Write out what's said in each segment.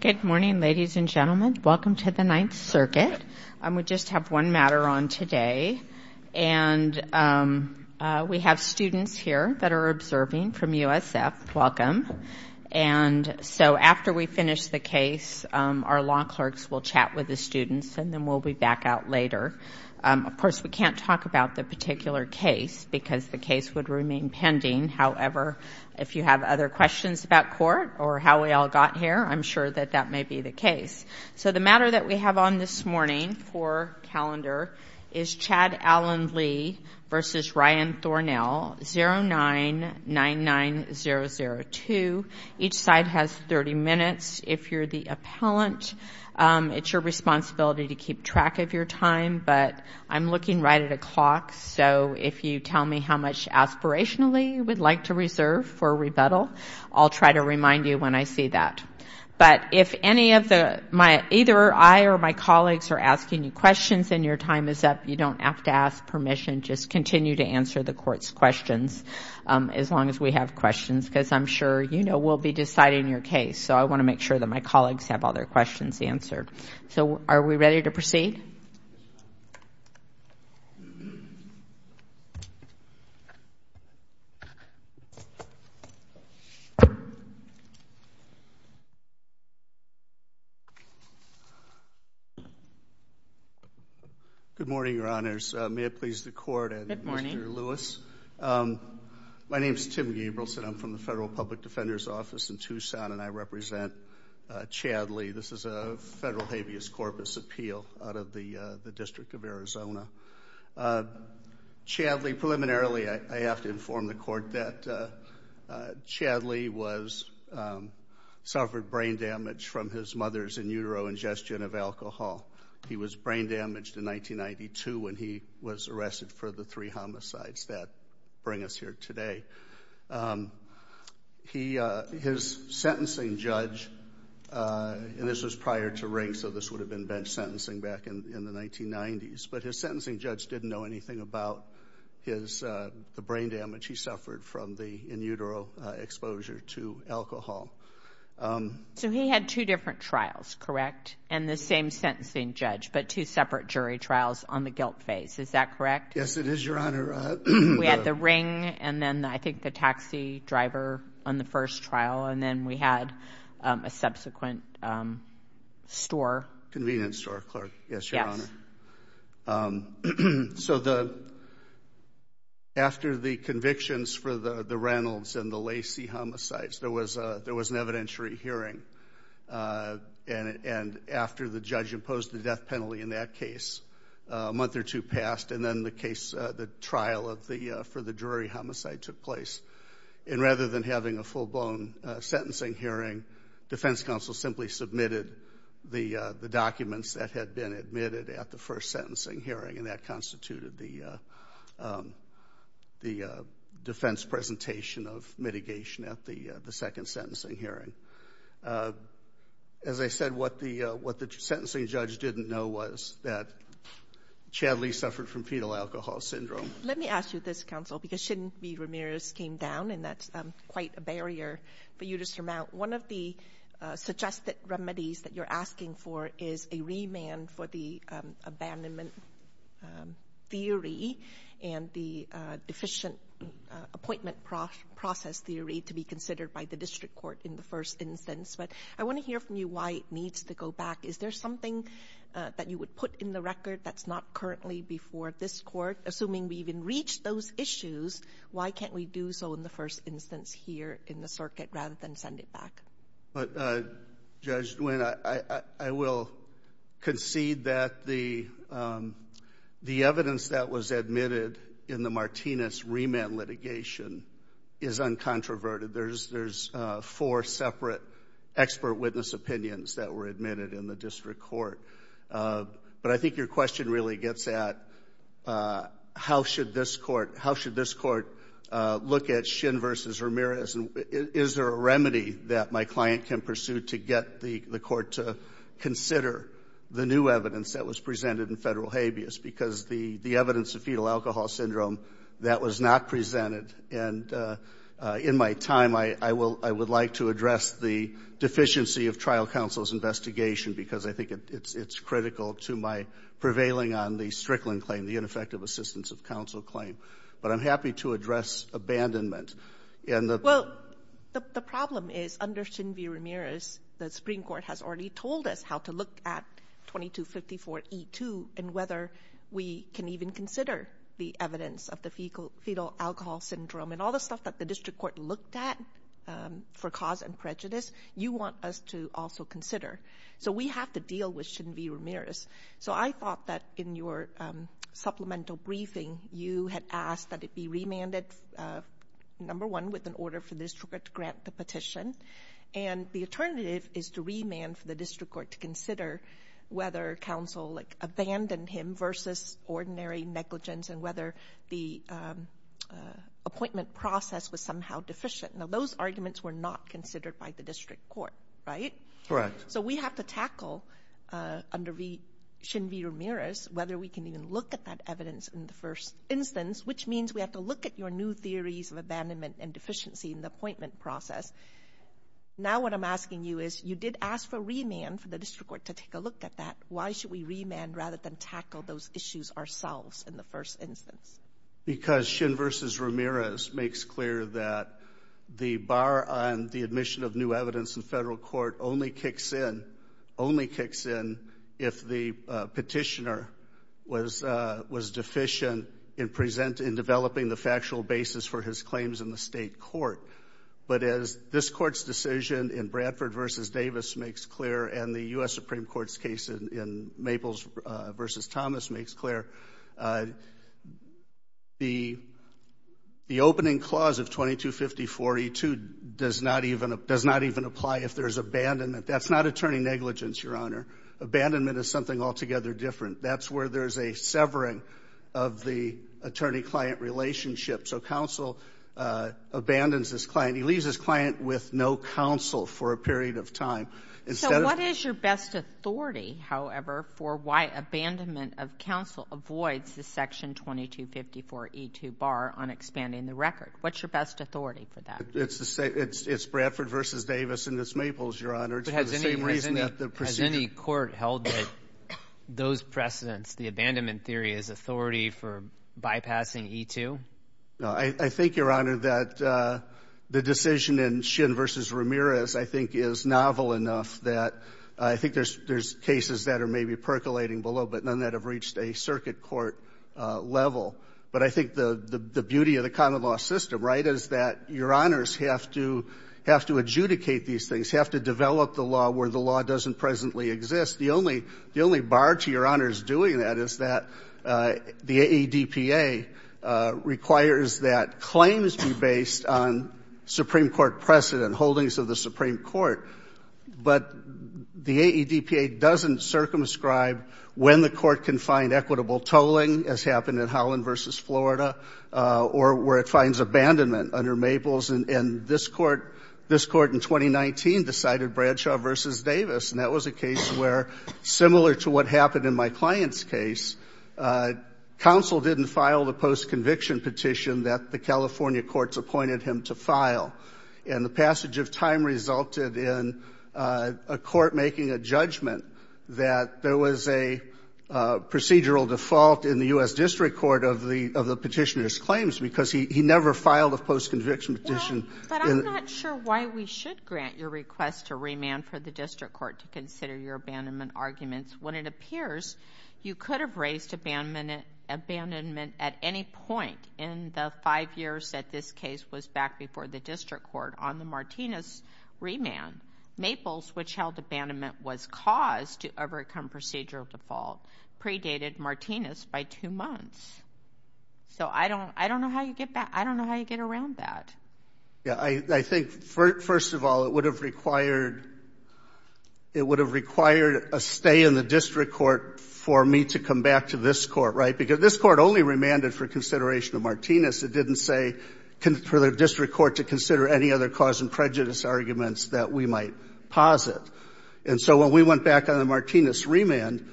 Good morning, ladies and gentlemen. Welcome to the Ninth Circuit. We just have one matter on today, and we have students here that are observing from USF. Welcome. And so after we finish the case, our law clerks will chat with the students, and then we'll be back out later. Of course, we can't talk about the particular case because the case would got here. I'm sure that that may be the case. So the matter that we have on this morning for calendar is Chad Allen Lee v. Ryan Thornell, 09-99-002. Each side has 30 minutes. If you're the appellant, it's your responsibility to keep track of your time, but I'm looking right at a clock, so if you tell me how much aspirationally you would like to reserve for rebuttal, I'll try to remind you when I see that. But if either I or my colleagues are asking you questions and your time is up, you don't have to ask permission. Just continue to answer the court's questions as long as we have questions, because I'm sure you know we'll be deciding your case. So I want to make sure that my colleagues have all their questions answered. So are we ready to proceed? Good morning, Your Honors. May it please the Court and Mr. Lewis. My name is Tim Gabrielson. I'm from the Federal Public Defender's Office in Tucson and I represent Chad Lee. This is a federal habeas corpus appeal out of the District of Arizona. Chad Lee, preliminarily I have to inform the Court that Chad Lee suffered brain damage from his mother's in utero ingestion of alcohol. He was brain damaged in 1992 when he was arrested for the three homicides that bring us here today. His sentencing judge, and this was prior to Ring, so this would have been bench sentencing back in the 1990s, but his sentencing judge didn't know anything about the brain damage he suffered from the in utero exposure to alcohol. So he had two different trials, correct? And the same sentencing judge, but two separate jury trials on the guilt phase, is that correct? Yes, it is, Your Honor. We had the Ring and then I think the taxi driver on the first trial and then we had a subsequent store. Convenience store, yes, Your Honor. So the after the convictions for the Reynolds and the Lacey homicides, there was a there was an issue passed and then the case, the trial for the Drury homicide took place. And rather than having a full-blown sentencing hearing, defense counsel simply submitted the documents that had been admitted at the first sentencing hearing and that constituted the defense presentation of mitigation at the second sentencing hearing. As I said, what the sentencing judge didn't know was that Chad Lee suffered from fetal alcohol syndrome. Let me ask you this, counsel, because Shin V. Ramirez came down and that's quite a barrier for you to surmount. One of the suggested remedies that you're asking for is a remand for the abandonment theory and the deficient appointment process theory to be considered by the district court in the first instance. But I want to hear from you why it needs to go back. Is there something that you would put in the record that's not currently before this court? Assuming we've even reached those issues, why can't we do so in the first instance here in the circuit rather than send it back? But Judge Nguyen, I will concede that the evidence that was admitted in the Martinez remand litigation is uncontroverted. There's four separate expert witness opinions that were admitted in the district court. But I think your question really gets at how should this court look at Shin V. Ramirez? Is there a remedy that my client can pursue to get the court to consider the new evidence that was presented in federal habeas? Because the evidence of fetal alcohol syndrome, that was not presented. And in my time, I would like to address the deficiency of trial counsel's investigation because I think it's critical to my prevailing on the Strickland claim, the ineffective assistance of counsel claim. But I'm happy to address abandonment. Well, the problem is under Shin V. Ramirez, the Supreme Court has already considered E2 and whether we can even consider the evidence of the fetal alcohol syndrome and all the stuff that the district court looked at for cause and prejudice, you want us to also consider. So we have to deal with Shin V. Ramirez. So I thought that in your supplemental briefing, you had asked that it be remanded, number one, with an order for the district court to grant the petition. And the counsel abandoned him versus ordinary negligence and whether the appointment process was somehow deficient. Now, those arguments were not considered by the district court, right? Correct. So we have to tackle under Shin V. Ramirez, whether we can even look at that evidence in the first instance, which means we have to look at your new theories of abandonment and deficiency in the appointment process. Now, what I'm asking you is, you did ask for remand for the district court to take a look at that. Why should we remand rather than tackle those issues ourselves in the first instance? Because Shin V. Ramirez makes clear that the bar on the admission of new evidence in federal court only kicks in, only kicks in, if the petitioner was deficient in developing the factual basis for his claims in the state court. But as this court's decision in Bradford v. Davis makes clear and the U.S. Supreme Court's case in Maples v. Thomas makes clear, the opening clause of 2250-42 does not even apply if there's abandonment. That's not attorney negligence, Your Honor. Abandonment is something altogether different. That's where there's a severing of the attorney-client relationship. So counsel abandons this client. He leaves his client with no counsel for a period of time. What is your best authority, however, for why abandonment of counsel avoids the Section 2254-E2 bar on expanding the record? What's your best authority for that? It's Bradford v. Davis and it's Maples, Your Honor. Has any court held that those precedents, the abandonment theory, is authority for bypassing E2? I think, Your Honor, that the decision in Shin v. Ramirez, I think, is novel enough that I think there's cases that are maybe percolating below, but none that have reached a circuit court level. But I think the beauty of the common law system, right, is that Your Honors have to adjudicate these things, have to develop the law where the law doesn't presently exist. The only bar to Your Honors doing that is that the ADPA requires that claims be based on Supreme Court precedent, holdings of the Supreme Court. But the ADPA doesn't circumscribe when the court can find equitable tolling, as happened in Holland v. Florida, or where it finds abandonment under Maples. And this court in 2019 decided Bradshaw v. Davis. And that was a case where, similar to what happened in my client's case, counsel didn't file the post-conviction petition that the passage of time resulted in a court making a judgment that there was a procedural default in the U.S. District Court of the petitioner's claims because he never filed a post-conviction petition. But I'm not sure why we should grant your request to remand for the District Court to consider your abandonment arguments when it appears you could have raised abandonment at any point in the five years that this case was back before the District Court on the Martinez remand. Maples, which held abandonment was caused to overcome procedural default, predated Martinez by two months. So I don't know how you get around that. Yeah, I think, first of all, it would have required a stay in the District Court for me to come back to this court, right? Because this court only remanded for consideration of Martinez. It didn't say for the District Court to consider any other cause and prejudice arguments that we might posit. And so when we went back on the Martinez remand,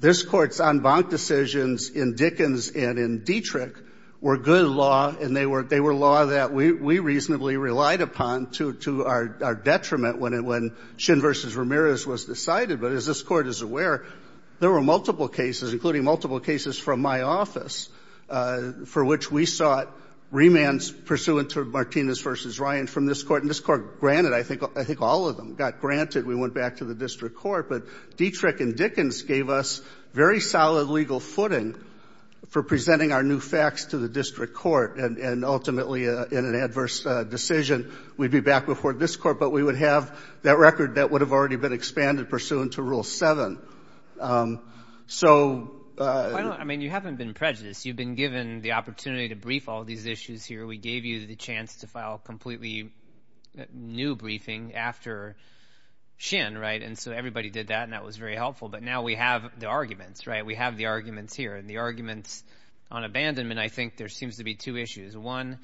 this court's en banc decisions in Dickens and in Dietrich were good law, and they were law that we reasonably relied upon to our detriment when Shin v. Ramirez was decided. But as this court is aware, there were multiple cases, including multiple cases from my office, for which we sought remands pursuant to Martinez v. Ryan from this court. And this court granted, I think all of them got granted, we went back to the District Court. But Dietrich and Dickens gave us very solid legal footing for presenting our new facts to the District Court. And ultimately, in an adverse decision, we'd be back before this court, but we would have that record that would have already been expanded pursuant to Article VII. I mean, you haven't been prejudiced. You've been given the opportunity to brief all these issues here. We gave you the chance to file completely new briefing after Shin, right? And so everybody did that, and that was very helpful. But now we have the arguments, right? We have the arguments here. And the arguments on abandonment, I think there seems to be two issues. One,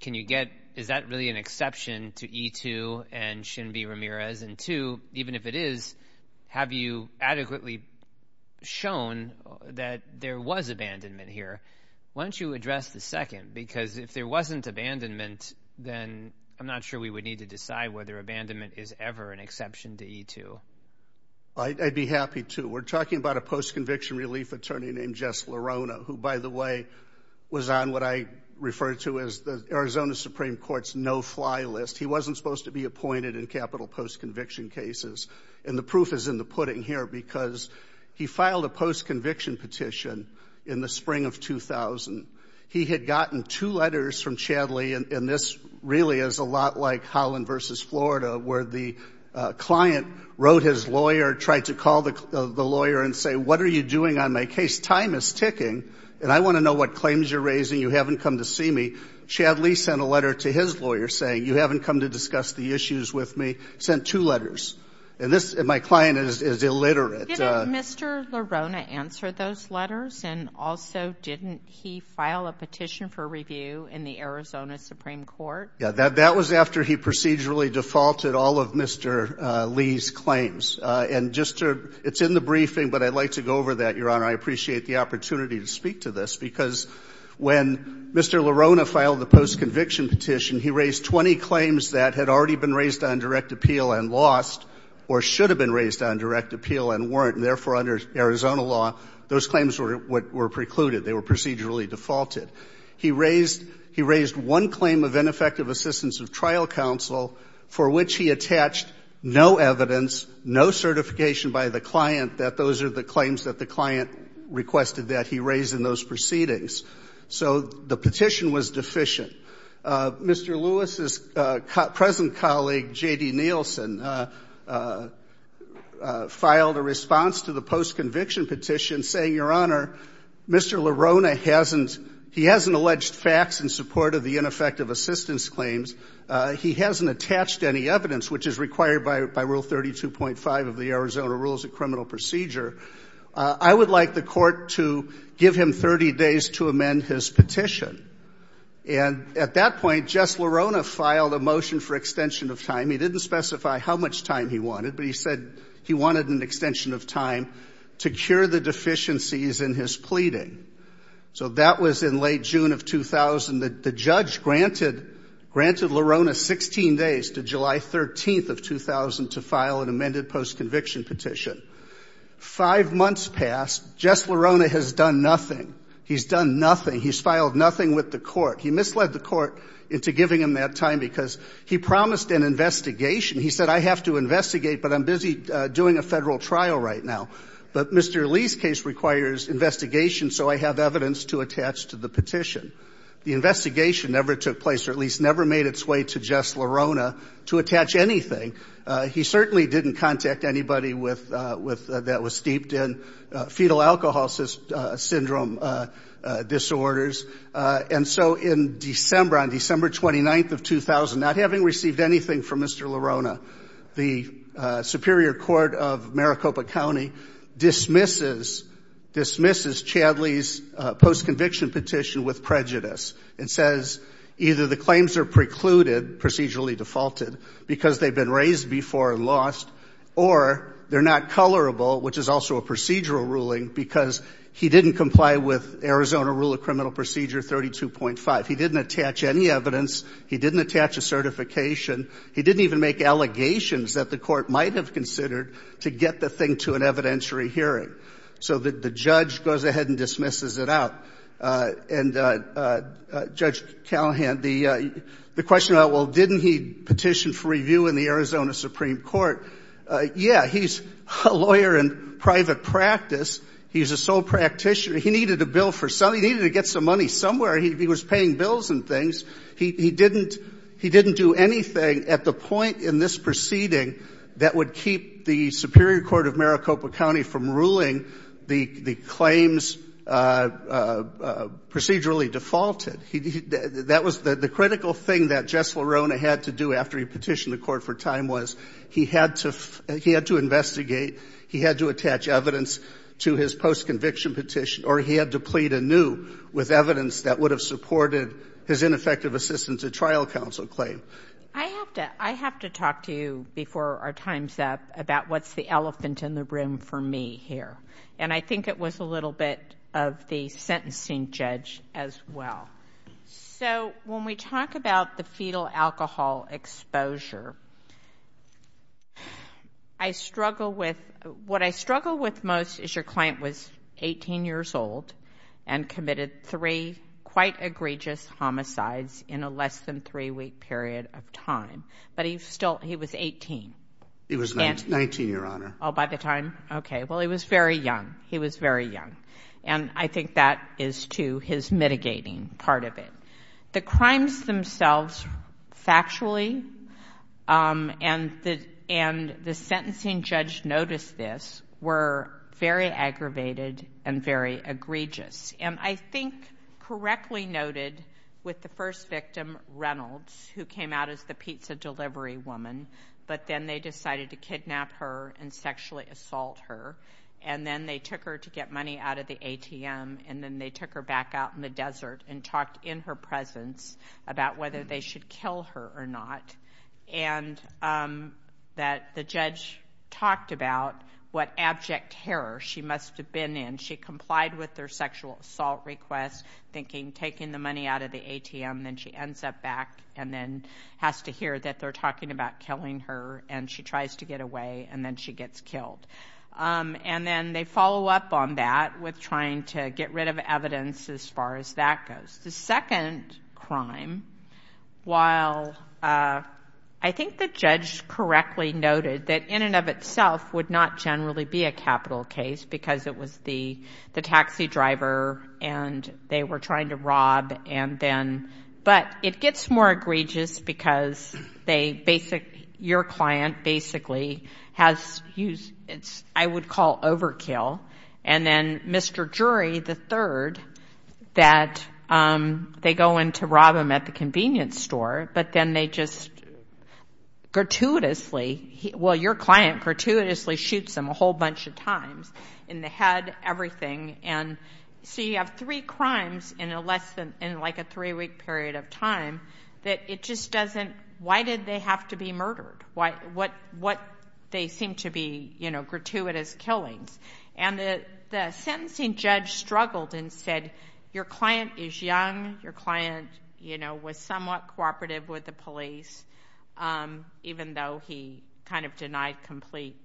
can you get, is that really an exception to E-2 and Shin v. Ramirez? And two, even if it is, have you adequately shown that there was abandonment here? Why don't you address the second? Because if there wasn't abandonment, then I'm not sure we would need to decide whether abandonment is ever an exception to E-2. I'd be happy to. We're talking about a post-conviction relief attorney named Jess LaRona, who, by the way, was on what I refer to as the Arizona Supreme Court's no-fly list. He wasn't supposed to be appointed in capital post-conviction cases. And the proof is in the pudding here, because he filed a post-conviction petition in the spring of 2000. He had gotten two letters from Chad Lee, and this really is a lot like Holland v. Florida, where the client wrote his lawyer, tried to call the lawyer and say, what are you doing on my case? Time is ticking, and I want to know what claims you're raising. You haven't come to see me. Chad Lee sent a letter to his lawyer saying, you haven't come to discuss the issues with me. Sent two letters. And this, my client is illiterate. Didn't Mr. LaRona answer those letters? And also, didn't he file a petition for review in the Arizona Supreme Court? Yeah, that was after he procedurally defaulted all of Mr. Lee's claims. And just to, it's in the briefing, but I'd like to go over that, Your Honor. I appreciate the opportunity to speak to this, because when Mr. LaRona filed the post-conviction petition, he raised 20 claims that had already been raised on direct appeal and lost, or should have been raised on direct appeal and weren't. And therefore, under Arizona law, those claims were precluded. They were procedurally defaulted. He raised one claim of ineffective assistance of trial counsel, for which he attached no evidence, no certification by the client that those are the claims that the proceedings. So the petition was deficient. Mr. Lewis's present colleague, J.D. Nielsen, filed a response to the post-conviction petition saying, Your Honor, Mr. LaRona hasn't, he hasn't alleged facts in support of the ineffective assistance claims. He hasn't attached any evidence, which is required by Rule 32.5 of the Arizona Rules of Criminal Procedure. I would like the court to give him 30 days to amend his petition. And at that point, Jess LaRona filed a motion for extension of time. He didn't specify how much time he wanted, but he said he wanted an extension of time to cure the deficiencies in his pleading. So that was in late June of 2000. The judge granted LaRona 16 days to July 13th of 2000 to extend the time. Five months passed. Jess LaRona has done nothing. He's done nothing. He's filed nothing with the court. He misled the court into giving him that time because he promised an investigation. He said, I have to investigate, but I'm busy doing a federal trial right now. But Mr. Lee's case requires investigation, so I have evidence to attach to the petition. The investigation never took place, or at least never made its way to Jess LaRona to attach anything. He certainly didn't contact anybody that was steeped in fetal alcohol syndrome disorders. And so in December, on December 29th of 2000, not having received anything from Mr. LaRona, the Superior Court of Maricopa County dismisses Chadley's post-conviction petition with prejudice. It says either the claims are precluded, procedurally defaulted, because they've been raised before and lost, or they're not colorable, which is also a procedural ruling, because he didn't comply with Arizona Rule of Criminal Procedure 32.5. He didn't attach any evidence. He didn't attach a certification. He didn't even make allegations that the court might have considered to get the thing to an evidentiary hearing. So the judge goes ahead and dismisses it out. And Judge Callahan, the question about, well, didn't he petition for review in the Arizona Supreme Court? Yeah, he's a lawyer in private practice. He's a sole practitioner. He needed a bill for something. He needed to get some money somewhere. He was paying bills and things. He didn't do anything at the point in this proceeding that would keep the Superior Court of Maricopa County from ruling the claims procedurally defaulted. That was the critical thing that Jess LaRona had to do after he petitioned the court for time was he had to investigate, he had to attach evidence to his post-conviction petition, or he had to plead anew with evidence that would have supported his ineffective assistance at trial counsel claim. I have to talk to you before our time's up about what's the elephant in the room for me here. And I think it was a little bit of the sentencing judge as well. So when we talk about the fetal alcohol exposure, what I struggle with most is your client was 18 years old and committed three egregious homicides in a less than three-week period of time. But he was 18. He was 19, Your Honor. Oh, by the time? Okay. Well, he was very young. He was very young. And I think that is, too, his mitigating part of it. The crimes themselves, factually, and the sentencing judge noticed this, were very aggravated and very egregious. And I think correctly noted with the first victim, Reynolds, who came out as the pizza delivery woman, but then they decided to kidnap her and sexually assault her. And then they took her to get money out of the ATM. And then they took her back out in the desert and talked in her presence about whether they should kill her or not. And that the judge talked about what abject terror she must have been in. She complied with their sexual assault request, thinking taking the money out of the ATM, then she ends up back and then has to hear that they're talking about killing her, and she tries to get away, and then she gets killed. And then they follow up on that with trying to get rid of evidence as far as that goes. The second crime, while I think the judge correctly noted that in and of itself would not generally be a capital case, because it was the taxi driver and they were trying to rob. But it gets more egregious because your client basically has used, I would call overkill. And then Mr. Jury, the third, that they go in to rob him at the convenience store, but then they just gratuitously, well, your client gratuitously shoots him a whole bunch of times in the head, everything. And so you have three crimes in a less than, in like a three-week period of time that it just doesn't, why did they have to be they seem to be gratuitous killings. And the sentencing judge struggled and said, your client is young, your client was somewhat cooperative with the police, even though he kind of denied complete,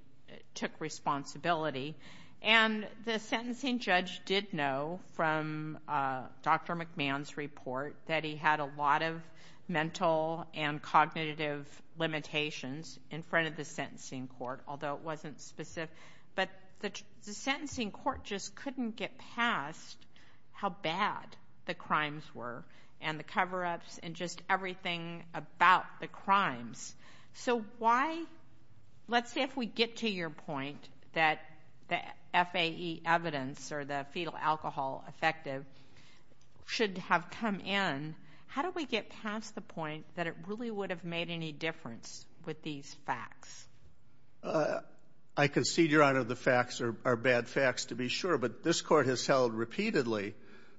took responsibility. And the sentencing judge did know from Dr. McMahon's report that he had a lot of mental and cognitive limitations in front of the court, although it wasn't specific. But the sentencing court just couldn't get past how bad the crimes were and the cover-ups and just everything about the crimes. So why, let's say if we get to your point that the FAE evidence or the fetal alcohol effective should have come in, how do we get past the point that it really would have made any difference with these facts? I concede, your honor, the facts are bad facts to be sure. But this court has held repeatedly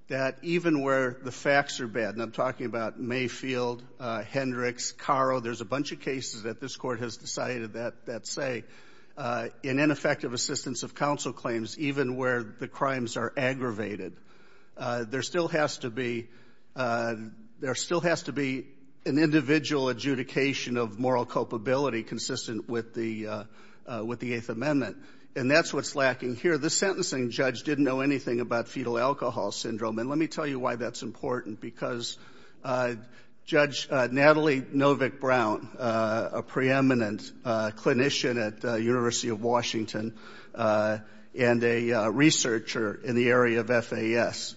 that even where the facts are bad, and I'm talking about Mayfield, Hendricks, Caro, there's a bunch of cases that this court has decided that say, in ineffective assistance of counsel claims, even where the crimes are aggravated, there still has to be, there still has to be an individual adjudication of moral culpability consistent with the Eighth Amendment. And that's what's lacking here. The sentencing judge didn't know anything about fetal alcohol syndrome. And let me tell you why that's important, because Judge Natalie Novick-Brown, a preeminent clinician at the University of Washington and a researcher in the area of FAS,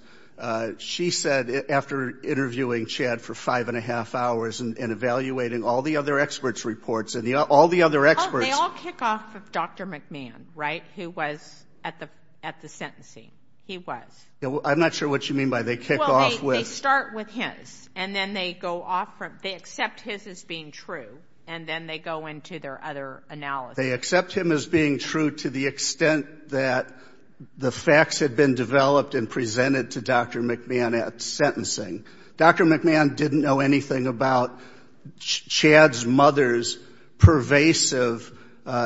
she said after interviewing Chad for five and a half hours and evaluating all the other experts' reports, and all the other experts... Oh, they all kick off with Dr. McMahon, right? Who was at the sentencing. He was. I'm not sure what you mean by they kick off with... Well, they start with his, and then they go off from, they accept his as being true, and then they go into their other analysis. They accept him as being true to the extent that the facts had been developed and presented to Dr. McMahon at sentencing. Dr. McMahon didn't know anything about Chad's mother's pervasive,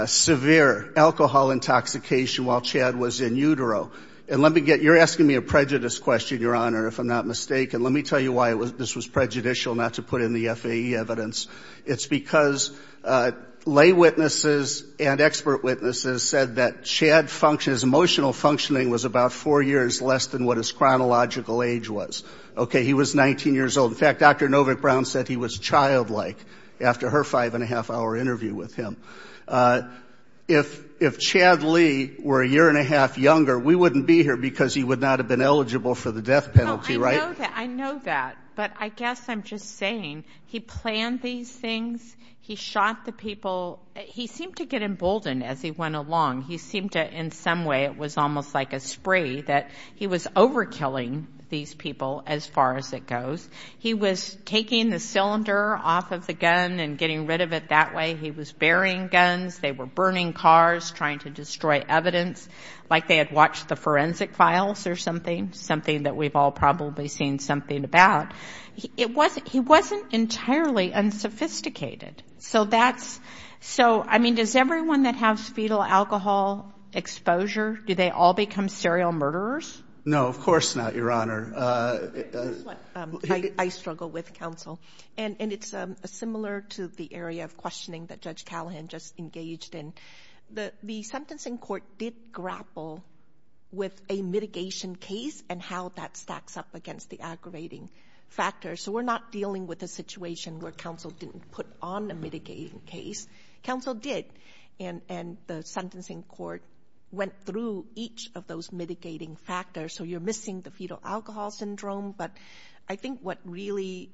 severe alcohol intoxication while Chad was in utero. And let me get, you're asking me a prejudice question, Your Honor, if I'm not mistaken. Let me tell you why this was prejudicial, not to put in the FAE evidence. It's because lay witnesses and expert witnesses said that Chad's emotional functioning was about four years less than what his chronological age was. Okay, he was 19 years old. In fact, Dr. Novick-Brown said he was childlike after her five and a half hour interview with him. If Chad Lee were a year and a half younger, we wouldn't be here because he would not have been eligible for the death penalty, right? I know that, but I guess I'm just saying he planned these things. He shot the people. He seemed to get emboldened as he went along. He seemed to, in some way, it was almost like a spree that he was overkilling these people as far as it goes. He was taking the cylinder off of the gun and getting rid of it that way. He was burying guns. They were burning cars, trying to destroy evidence, like they had watched the forensic files or something, something that we've all seen something about. He wasn't entirely unsophisticated. Does everyone that has fetal alcohol exposure, do they all become serial murderers? No, of course not, Your Honor. I struggle with counsel. It's similar to the area of questioning that Judge Callahan just engaged in. The sentencing court did grapple with a mitigation case and how that stacks up against the aggravating factors. So we're not dealing with a situation where counsel didn't put on a mitigating case. Counsel did, and the sentencing court went through each of those mitigating factors. So you're missing the fetal alcohol syndrome, but I think what really,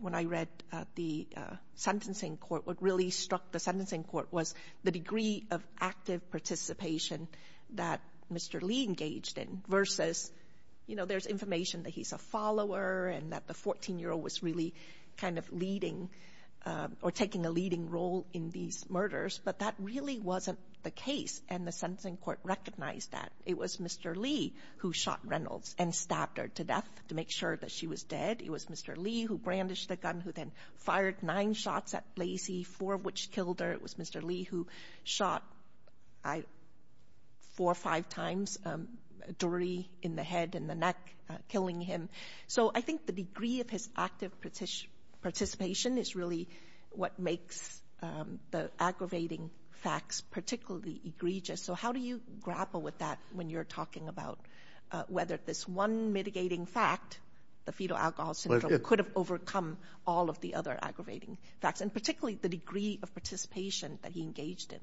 when I read the sentencing court, what really struck the sentencing court was the degree of active participation that Mr. Lee engaged in versus, you know, there's information that he's a follower and that the 14-year-old was really kind of leading or taking a leading role in these murders, but that really wasn't the case, and the sentencing court recognized that. It was Mr. Lee who shot Reynolds and stabbed her to death to make sure that she was dead. It was Mr. Lee who then fired nine shots at Blasey, four of which killed her. It was Mr. Lee who shot four or five times, a Dory in the head and the neck, killing him. So I think the degree of his active participation is really what makes the aggravating facts particularly egregious. So how do you grapple with that when you're talking about whether this one mitigating fact, the fetal alcohol syndrome, could have overcome all of the other aggravating facts, and particularly the degree of participation that he engaged in?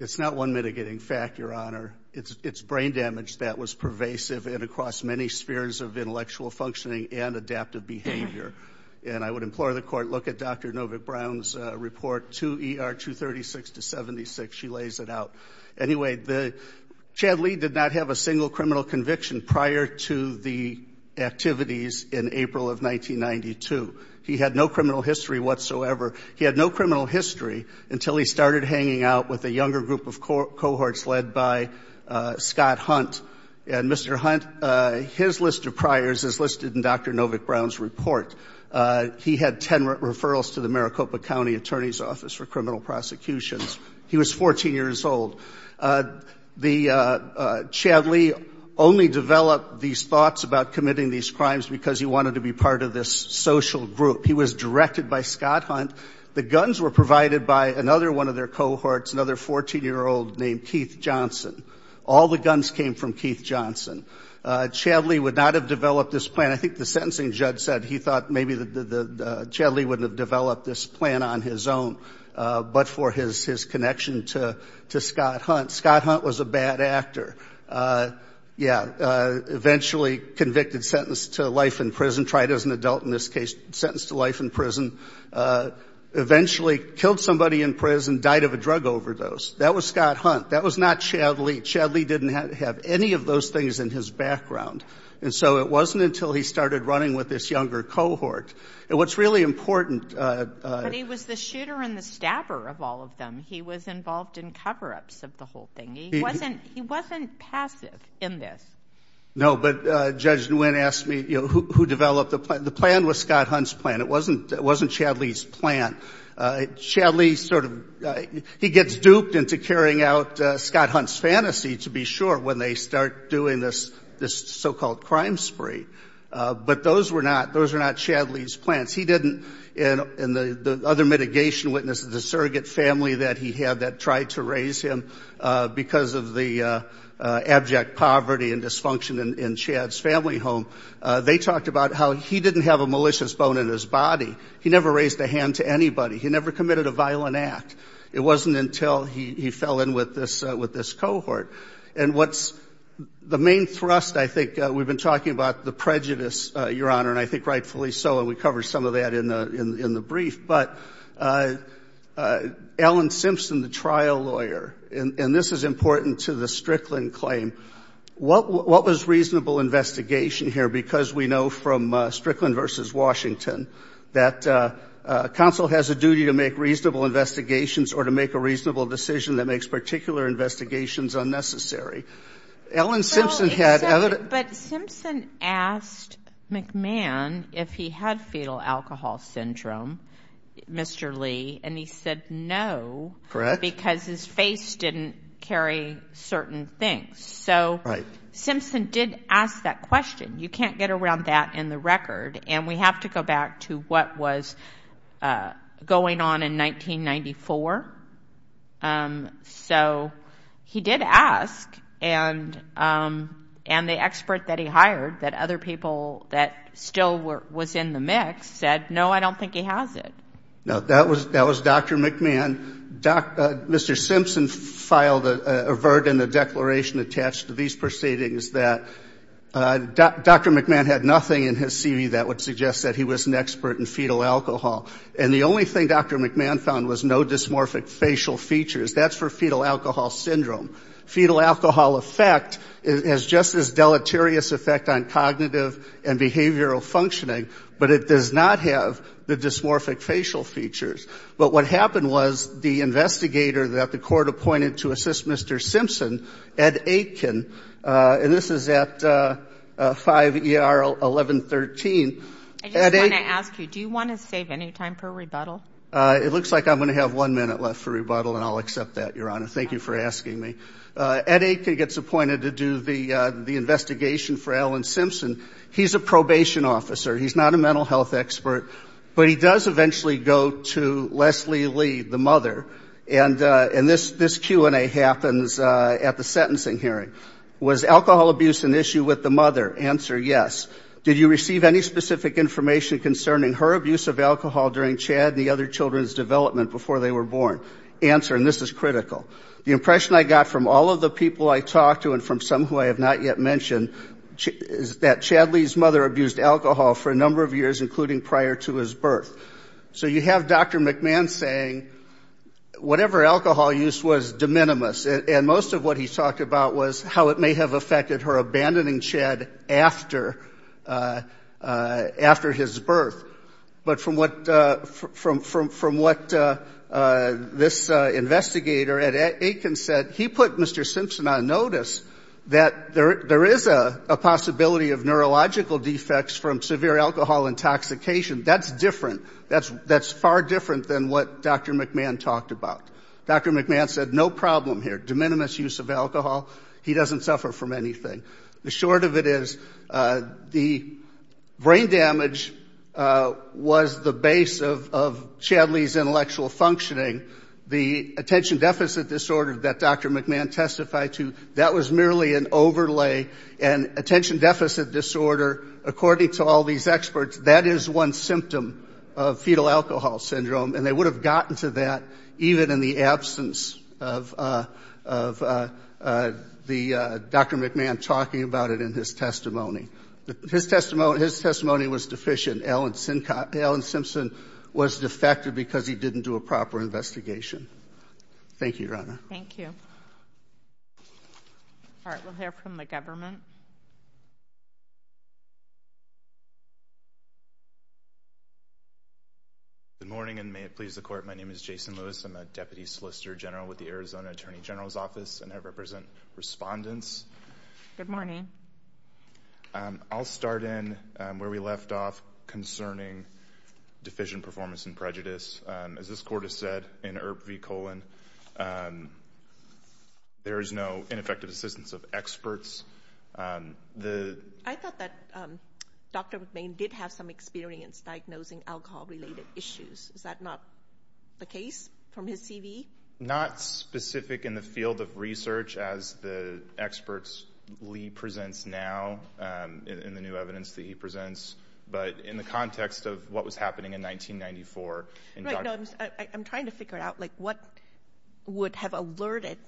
It's not one mitigating fact, Your Honor. It's brain damage that was pervasive and across many spheres of intellectual functioning and adaptive behavior, and I would implore the court, look at Dr. Novick-Brown's report, 2 ER 236 to 76. She lays it out. Anyway, Chad Lee did not have a single criminal conviction prior to the activities in 1992. He had no criminal history whatsoever. He had no criminal history until he started hanging out with a younger group of cohorts led by Scott Hunt. And Mr. Hunt, his list of priors is listed in Dr. Novick-Brown's report. He had ten referrals to the Maricopa County Attorney's Office for criminal prosecutions. He was 14 years old. Chad Lee only developed these thoughts about this social group. He was directed by Scott Hunt. The guns were provided by another one of their cohorts, another 14-year-old named Keith Johnson. All the guns came from Keith Johnson. Chad Lee would not have developed this plan. I think the sentencing judge said he thought maybe Chad Lee wouldn't have developed this plan on his own, but for his connection to Scott Hunt. Scott Hunt was a bad actor. Eventually convicted, sentenced to life in prison, tried as an adult in this case, sentenced to life in prison. Eventually killed somebody in prison, died of a drug overdose. That was Scott Hunt. That was not Chad Lee. Chad Lee didn't have any of those things in his background. And so it wasn't until he started running with this younger cohort. And what's really important... But he was the shooter and the stabber of all of them. He was passive in this. No, but Judge Nguyen asked me who developed the plan. The plan was Scott Hunt's plan. It wasn't Chad Lee's plan. Chad Lee sort of... He gets duped into carrying out Scott Hunt's fantasy, to be sure, when they start doing this so-called crime spree. But those were not Chad Lee's plans. He didn't... And the other mitigation witnesses, the surrogate family that he had that abject poverty and dysfunction in Chad's family home, they talked about how he didn't have a malicious bone in his body. He never raised a hand to anybody. He never committed a violent act. It wasn't until he fell in with this cohort. And what's the main thrust, I think, we've been talking about the prejudice, Your Honor, and I think rightfully so, and we covered some of that in the brief. But Ellen Simpson, the trial lawyer, and this is important to the Strickland claim, what was reasonable investigation here? Because we know from Strickland v. Washington that counsel has a duty to make reasonable investigations or to make a reasonable decision that makes particular investigations unnecessary. Ellen Simpson had... But Simpson asked McMahon if he had fetal alcohol syndrome, Mr. Lee, and he said no because his face didn't carry certain things. So Simpson did ask that question. You can't get around that in the record. And we have to go back to what was going on in 1994. So he did ask, and the expert that he hired, that other people that still was in the mix said, no, I don't think he has it. No, that was Dr. McMahon. Mr. Simpson filed a verdict in the declaration attached to these proceedings that Dr. McMahon had nothing in his CV that would suggest that he was an expert in fetal alcohol. And the only thing Dr. McMahon found was no dysmorphic facial features. That's for fetal cognitive and behavioral functioning, but it does not have the dysmorphic facial features. But what happened was the investigator that the court appointed to assist Mr. Simpson, Ed Aitken, and this is at 5 ER 1113. I just want to ask you, do you want to save any time for rebuttal? It looks like I'm going to have one minute left for rebuttal, and I'll accept that, Your Honor. Thank you for asking me. Ed Aitken gets appointed to do the investigation for Ellen Simpson. He's a probation officer. He's not a mental health expert, but he does eventually go to Leslie Lee, the mother, and this Q&A happens at the sentencing hearing. Was alcohol abuse an issue with the mother? Answer, yes. Did you receive any specific information concerning her abuse of alcohol during Chad and the other children's development before they were born? Answer, and this is critical. The impression I got from all of the people I talked to and from some who I have not yet mentioned is that Chad Lee's mother abused alcohol for a number of years, including prior to his birth. So you have Dr. McMahon saying whatever alcohol use was de minimis, and most of what he talked about was how it may have affected her abandoning Chad after his birth. But from what this investigator, Ed Aitken, said, he put Mr. Simpson on notice that there is a possibility of neurological defects from severe alcohol intoxication. That's different. That's far different than what Dr. McMahon talked about. Dr. McMahon said no problem here. De minimis use of alcohol. He doesn't suffer from anything. The short of it is the brain damage was the base of Chad Lee's intellectual functioning. The attention deficit disorder that Dr. McMahon testified to, that was merely an overlay. And attention deficit disorder, according to all these experts, that is one symptom of fetal alcohol syndrome. And they would have gotten to that even in the absence of the Dr. McMahon talking about it in his testimony. His testimony was deficient. Alan Simpson was defected because he didn't do a proper investigation. Thank you, Your Honor. Thank you. All right. We'll hear from the government. Good morning, and may it please the Court. My name is Jason Lewis. I'm a Deputy Solicitor General with the Arizona Attorney General's Office, and I represent respondents. Good morning. I'll start in where we left off concerning deficient performance and prejudice. As this Court has said in IRBV, there is no ineffective assistance of experts. I thought that Dr. McMahon did have some experience diagnosing alcohol-related issues. Is that not the case from his CV? Not specific in the field of research as the experts Lee presents now in the new evidence that he presents, but in the context of what was happening in 1994. I'm trying to figure out, like, what would have alerted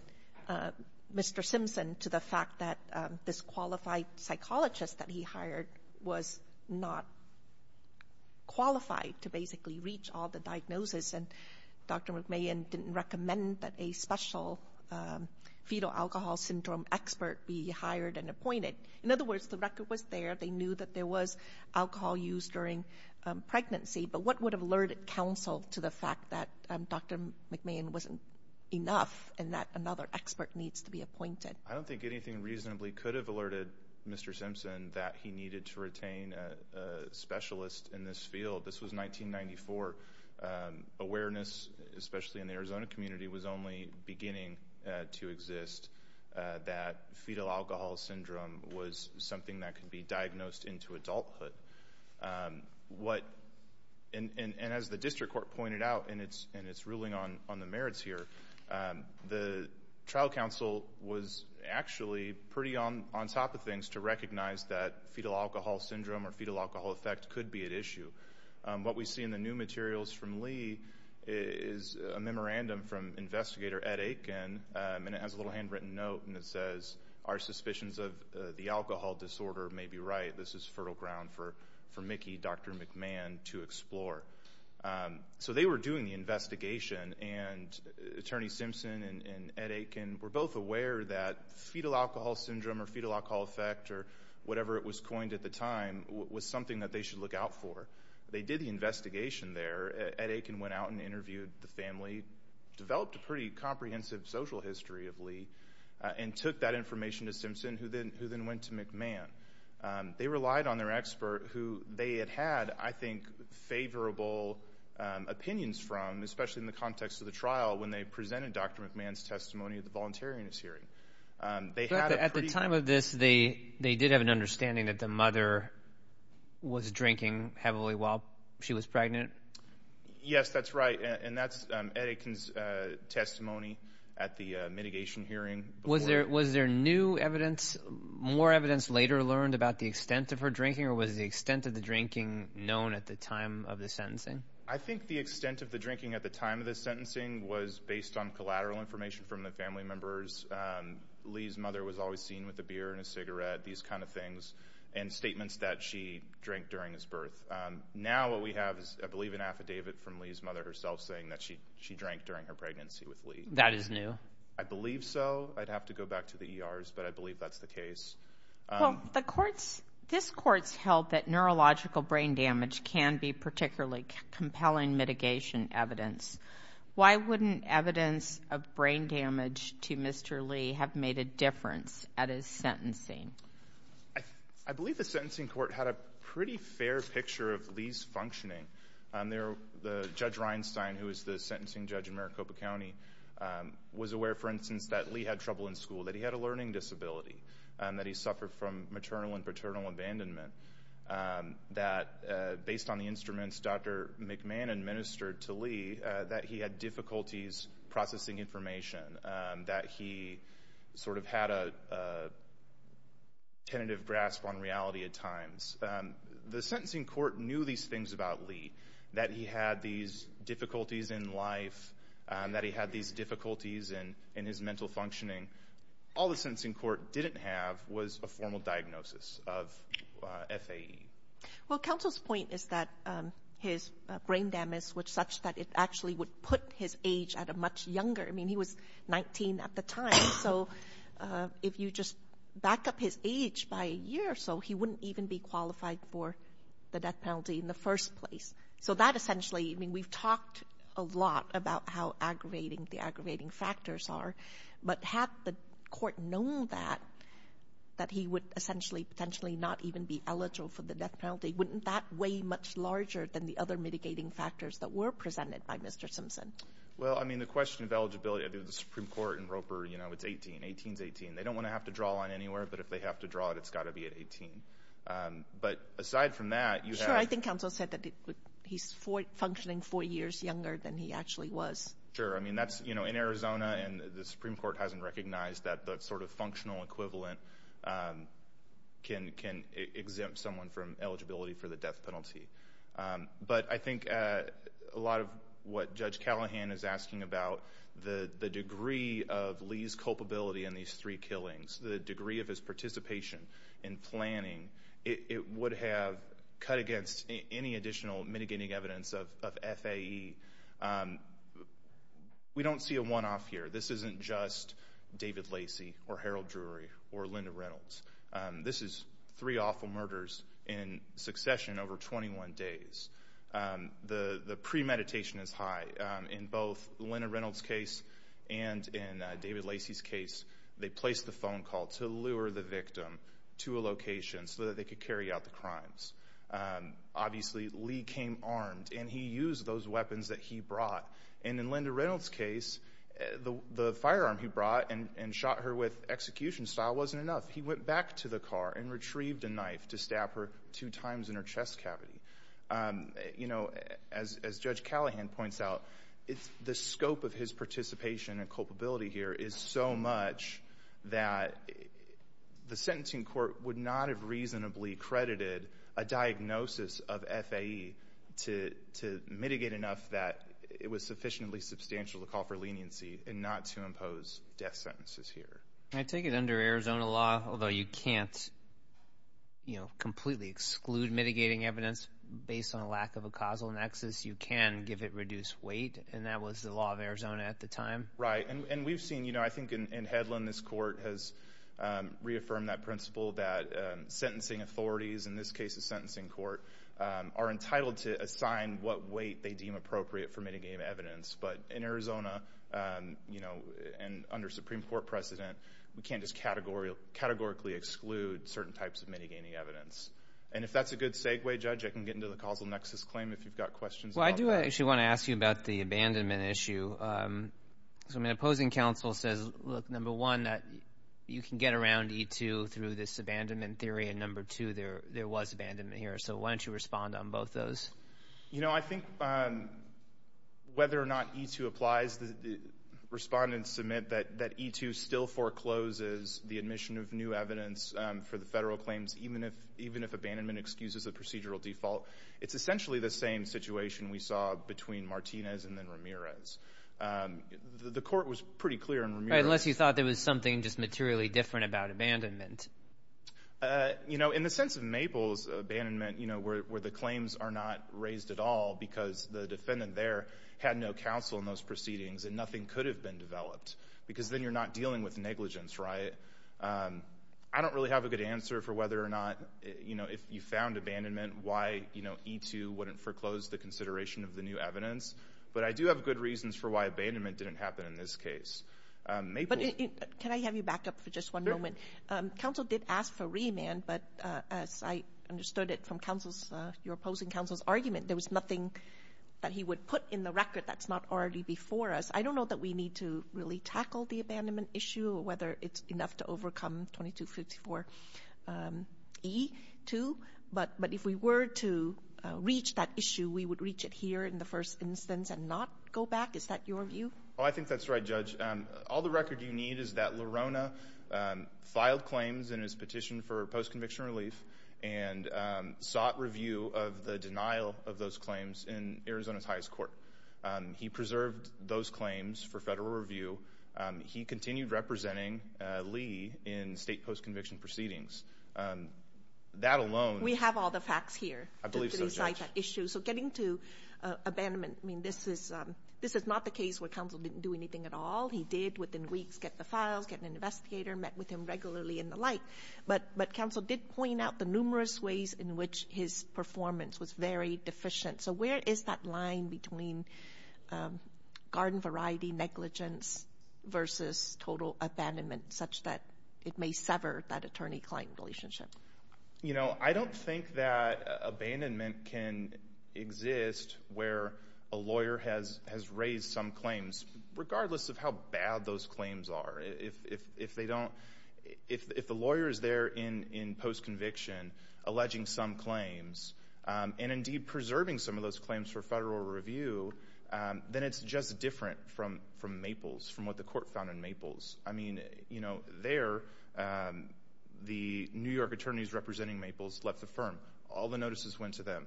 Mr. Simpson to the fact that this qualified psychologist that he hired was not qualified to basically reach all the diagnosis, and Dr. McMahon didn't recommend that a special fetal alcohol syndrome expert be hired and appointed. In other words, the record was there. They knew that there was alcohol used during pregnancy, but what would have alerted counsel to the fact that Dr. McMahon wasn't enough and that another expert needs to be appointed? I don't think anything reasonably could have alerted Mr. Simpson that he needed to retain a specialist in this field. This was 1994. Awareness, especially in the Arizona community, was only beginning to exist that fetal alcohol syndrome was something that could be diagnosed into adulthood. And as the district court pointed out, and it's ruling on the merits here, the trial counsel was actually pretty on top of things to recognize that fetal alcohol syndrome or fetal alcohol effect could be at issue. What we see in the new materials from Lee is a memorandum from investigator Ed Aiken, and it has a little handwritten note, and it says, our suspicions of the alcohol disorder may be right. This is fertile ground for Mickey, Dr. McMahon to explore. So they were doing the investigation, and Attorney Simpson and Ed Aiken were both aware that fetal alcohol syndrome or fetal alcohol effect or whatever it was coined at the time was something that they should look out for. They did the investigation there. Ed Aiken went out and interviewed the family, developed a pretty comprehensive social history of Lee, and took that information to Simpson, who then went to McMahon. They relied on their I think favorable opinions from, especially in the context of the trial, when they presented Dr. McMahon's testimony at the voluntariness hearing. At the time of this, they did have an understanding that the mother was drinking heavily while she was pregnant? Yes, that's right, and that's Ed Aiken's testimony at the mitigation hearing. Was there new evidence, more evidence later learned about the extent of her drinking, or was the extent of the drinking known at the time of the sentencing? I think the extent of the drinking at the time of the sentencing was based on collateral information from the family members. Lee's mother was always seen with a beer and a cigarette, these kind of things, and statements that she drank during his birth. Now what we have is, I believe, an affidavit from Lee's mother herself saying that she drank during her pregnancy with Lee. That is new. I believe so. I'd have to go back to the ERs, but I believe that's the case. This court's held that neurological brain damage can be particularly compelling mitigation evidence. Why wouldn't evidence of brain damage to Mr. Lee have made a difference at his sentencing? I believe the sentencing court had a pretty fair picture of Lee's functioning. Judge Reinstein, who is the sentencing judge in Maricopa County, was aware, for instance, that Lee had trouble in school, that he had a learning disability, that he suffered from maternal and paternal abandonment, that based on the instruments Dr. McMahon administered to Lee, that he had difficulties processing information, that he sort of had a tentative grasp on reality at times. The sentencing court knew these things about Lee, that he had these difficulties in life, that he had these difficulties in his mental functioning. All the sentencing court didn't have was a formal diagnosis of FAE. Well, counsel's point is that his brain damage was such that it actually would put his age at a much younger, I mean he was 19 at the time, so if you just back up his age by a year or so, he wouldn't even be qualified for the death penalty in the first place. So that essentially, I mean we've talked a lot about how aggravating the aggravating factors are, but had the court known that, that he would essentially, potentially not even be eligible for the death penalty, wouldn't that weigh much larger than the other mitigating factors that were presented by Mr. Simpson? Well, I mean the question of eligibility, I mean the Supreme Court and Roper, you know, it's 18, 18's 18. They don't want to draw on anywhere, but if they have to draw it, it's got to be at 18. But aside from that, you have... Sure, I think counsel said that he's functioning four years younger than he actually was. Sure, I mean that's, you know, in Arizona, and the Supreme Court hasn't recognized that the sort of functional equivalent can exempt someone from eligibility for the death penalty. But I think a lot of what Judge Callahan is asking about, the degree of Lee's culpability in these three killings, the degree of his participation in planning, it would have cut against any additional mitigating evidence of FAE. We don't see a one-off here. This isn't just David Lacey or Harold Drury or Linda Reynolds. This is three awful murders in succession over 21 days. The premeditation is high. In both Linda Reynolds' case and in David Lacey's case, they placed the phone call to lure the victim to a location so that they could carry out the crimes. Obviously, Lee came armed, and he used those weapons that he brought. And in Linda Reynolds' case, the firearm he brought and shot her with execution style wasn't enough. He went back to the car and retrieved a knife to stab her two times in her chest cavity. You know, as Judge that, the sentencing court would not have reasonably credited a diagnosis of FAE to mitigate enough that it was sufficiently substantial to call for leniency and not to impose death sentences here. I take it under Arizona law, although you can't, you know, completely exclude mitigating evidence based on a lack of a causal nexus, you can give it reduced weight, and that was the law of Arizona at the time. Right. And we've seen, you know, I think in Headland, this court has reaffirmed that principle that sentencing authorities, in this case a sentencing court, are entitled to assign what weight they deem appropriate for mitigating evidence. But in Arizona, you know, and under Supreme Court precedent, we can't just categorically exclude certain types of mitigating evidence. And if that's a good segue, Judge, I can get into the causal nexus claim if you've got questions. Well, I do actually want to ask you about the abandonment issue. So my opposing counsel says, look, number one, that you can get around E-2 through this abandonment theory, and number two, there was abandonment here. So why don't you respond on both those? You know, I think whether or not E-2 applies, the respondents submit that E-2 still forecloses the admission of new evidence for the federal claims, even if abandonment excuses a procedural default. It's essentially the same situation we saw between Martinez and then Ramirez. The court was pretty clear on Ramirez. Right, unless you thought there was something just materially different about abandonment. You know, in the sense of Maple's abandonment, you know, where the claims are not raised at all because the defendant there had no counsel in those proceedings and nothing could have been developed, because then you're not dealing with negligence, right? I don't really have a good answer for whether or not, you know, if you found abandonment, why, you know, E-2 wouldn't foreclose the consideration of the new evidence, but I do have good reasons for why abandonment didn't happen in this case. Can I have you back up for just one moment? Counsel did ask for remand, but as I understood it from counsel's, your opposing counsel's argument, there was nothing that he would put in the record that's not already before us. I don't know that we need to really tackle the abandonment issue or whether it's enough to overcome 2254 E-2, but if we were to reach it here in the first instance and not go back, is that your view? Oh, I think that's right, Judge. All the record you need is that Lerona filed claims in his petition for post-conviction relief and sought review of the denial of those claims in Arizona's highest court. He preserved those claims for federal review. He continued representing Lee in state post-conviction proceedings. That alone— I believe so, Judge. Getting to abandonment, this is not the case where counsel didn't do anything at all. He did, within weeks, get the files, get an investigator, met with him regularly and the like, but counsel did point out the numerous ways in which his performance was very deficient. Where is that line between garden variety negligence versus total abandonment such that it may sever that attorney-client relationship? I don't think that abandonment can exist where a lawyer has raised some claims, regardless of how bad those claims are. If the lawyer is there in post-conviction alleging some claims and, indeed, preserving some of those claims for federal review, then it's just different from Maples, from what the court found in Maples. You know, there, the New York attorneys representing Maples left the firm. All the notices went to them.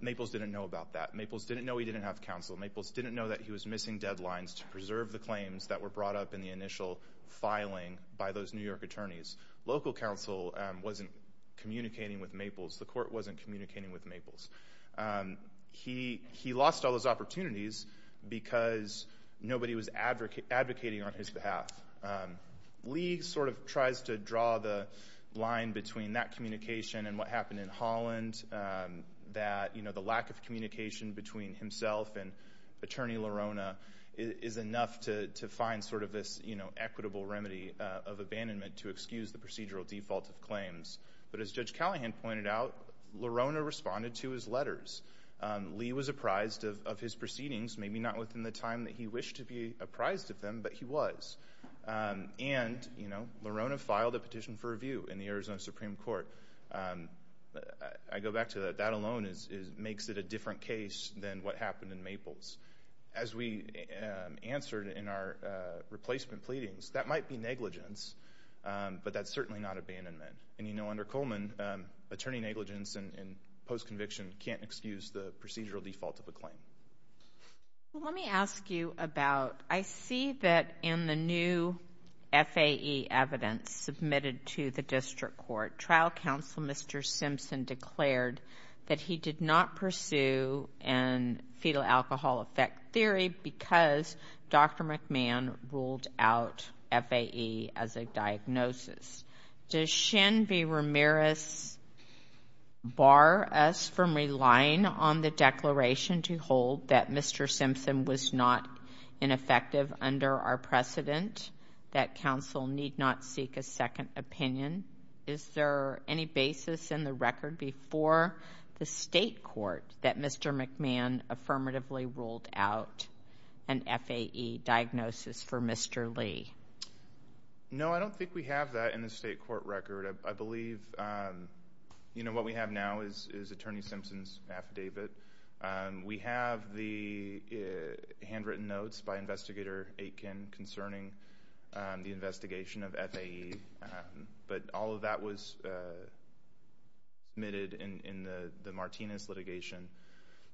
Maples didn't know about that. Maples didn't know he didn't have counsel. Maples didn't know that he was missing deadlines to preserve the claims that were brought up in the initial filing by those New York attorneys. Local counsel wasn't communicating with Maples. The court wasn't communicating with Maples. He lost all those opportunities because nobody was advocating on his behalf. Lee sort of tries to draw the line between that communication and what happened in Holland, that, you know, the lack of communication between himself and Attorney LaRona is enough to find sort of this, you know, equitable remedy of abandonment to excuse the procedural default of claims. But as Judge Callahan pointed out, LaRona responded to his letters. Lee was apprised of his proceedings, maybe not within the time that he wished to be apprised of them, but he was. And, you know, LaRona filed a petition for review in the Arizona Supreme Court. I go back to that. That alone makes it a different case than what happened in Maples. As we answered in our replacement pleadings, that might be negligence, but that's certainly not abandonment. And, you know, under Coleman, attorney negligence and post-conviction can't excuse the procedural default of a claim. Let me ask you about, I see that in the new FAE evidence submitted to the district court, trial counsel Mr. Simpson declared that he did not pursue a fetal alcohol effect theory because Dr. McMahon ruled out FAE as a diagnosis. Does Shin V. Ramirez bar us from relying on the declaration to hold that Mr. Simpson was not ineffective under our precedent, that counsel need not seek a second opinion? Is there any basis in the record before the state court that Mr. McMahon affirmatively ruled out an FAE diagnosis for Mr. Lee? No, I don't think we have that in the state court record. I believe, you know, what we have now is attorney Simpson's affidavit. We have the handwritten notes by the Martinez litigation.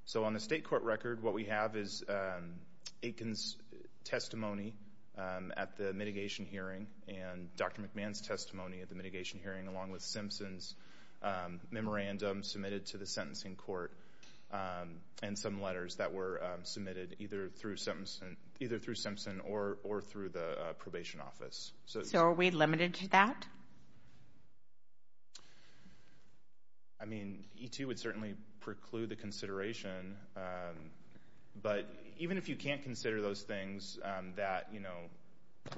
So on the state court record, what we have is Aiken's testimony at the mitigation hearing and Dr. McMahon's testimony at the mitigation hearing along with Simpson's memorandum submitted to the sentencing court and some letters that were submitted either through Simpson or through the probation office. So are we limited to that? I mean, E2 would certainly preclude the consideration, but even if you can't consider those things that, you know,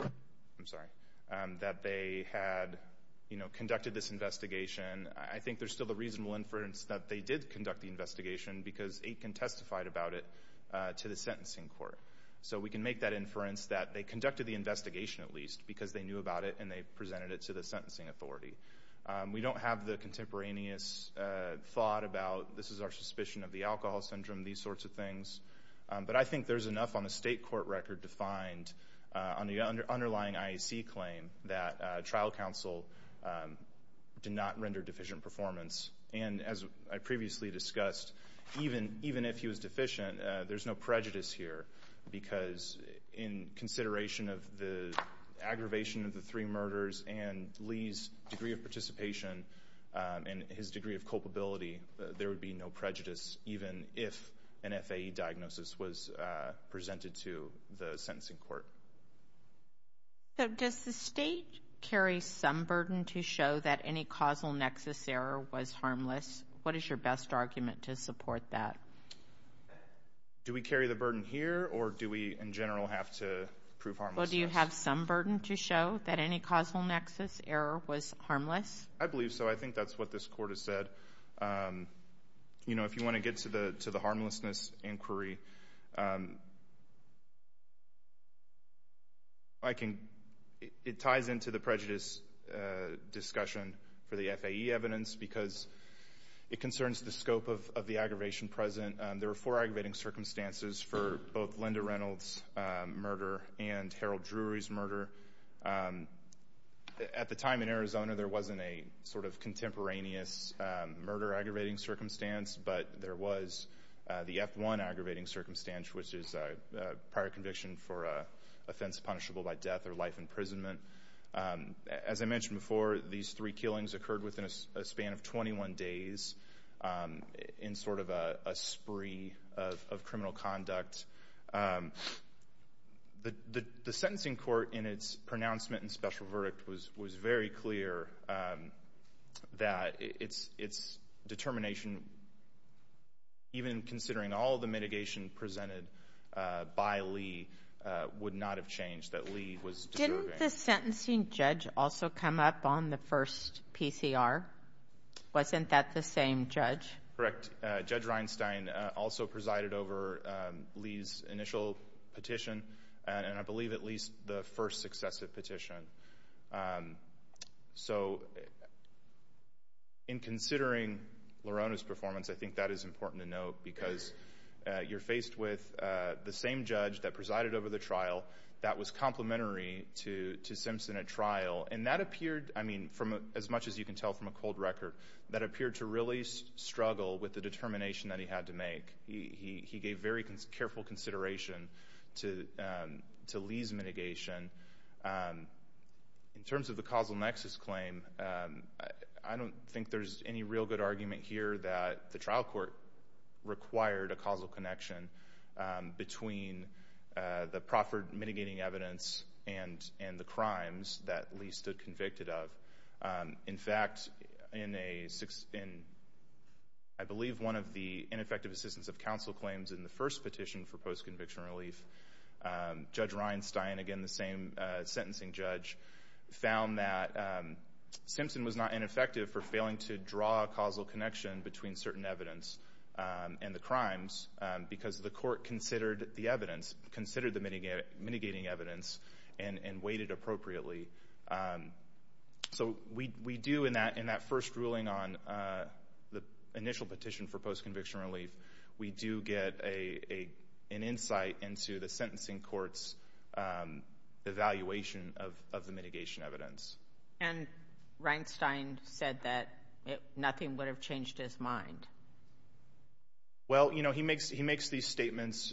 I'm sorry, that they had, you know, conducted this investigation, I think there's still the reasonable inference that they did conduct the investigation because Aiken testified about it to the sentencing court. So we can make that inference that they conducted the investigation at least because they knew about it and they presented it to the sentencing authority. We don't have the contemporaneous thought about this is our suspicion of the alcohol syndrome, these sorts of things. But I think there's enough on the state court record to find on the underlying IEC claim that trial counsel did not render deficient performance. And as I previously discussed, even if he was deficient, there's no prejudice here because in consideration of the aggravation of the three murders and Lee's degree of participation and his degree of culpability, there would be no prejudice even if an FAE diagnosis was presented to the sentencing court. So does the state carry some burden to show that any causal nexus error was harmless? What is your best argument to support that? Do we carry the burden here or do we in general have to prove harmlessness? Well, do you have some burden to show that any causal nexus error was harmless? I believe so. I think that's what this court has said. You know, if you want to get to the harmlessness inquiry, it ties into the prejudice discussion for the FAE evidence because it concerns the scope of aggravation present. There were four aggravating circumstances for both Linda Reynolds' murder and Harold Drury's murder. At the time in Arizona, there wasn't a sort of contemporaneous murder aggravating circumstance, but there was the F-1 aggravating circumstance, which is a prior conviction for an offense punishable by death or life imprisonment. As I mentioned before, these three killings occurred within a span of 21 days in sort of a spree of criminal conduct. The sentencing court in its pronouncement and special verdict was very clear that its determination, even considering all the mitigation presented by Lee, would not have changed, that Lee was deserving. Didn't the sentencing judge also come up on the first PCR? Wasn't that the same judge? Correct. Judge Reinstein also presided over Lee's initial petition, and I believe at least the first successive petition. So, in considering Lorona's performance, I think that is important to note because you're faced with the same judge that presided over the trial that was complementary to Simpson at trial, and that appeared, I mean, from as much as you can tell from a cold record, that appeared to really struggle with the determination that he had to make. He gave very careful consideration to Lee's mitigation. In terms of the causal nexus claim, I don't think there's any real good argument here that the trial court required a causal connection between the proffered mitigating evidence and the crimes that Lee stood convicted of. In fact, in I believe one of the ineffective assistance of counsel claims in the first petition for post-conviction relief, Judge Reinstein, again the same sentencing judge, found that Simpson was not ineffective for failing to draw a causal connection between certain evidence and the crimes because the court considered the mitigating evidence and weighted appropriately. So, we do in that first ruling on the initial petition for post-conviction relief, we do get an insight into the sentencing court's evaluation of the mitigation evidence. And Reinstein said that nothing would have changed his mind. Well, you know, he makes these statements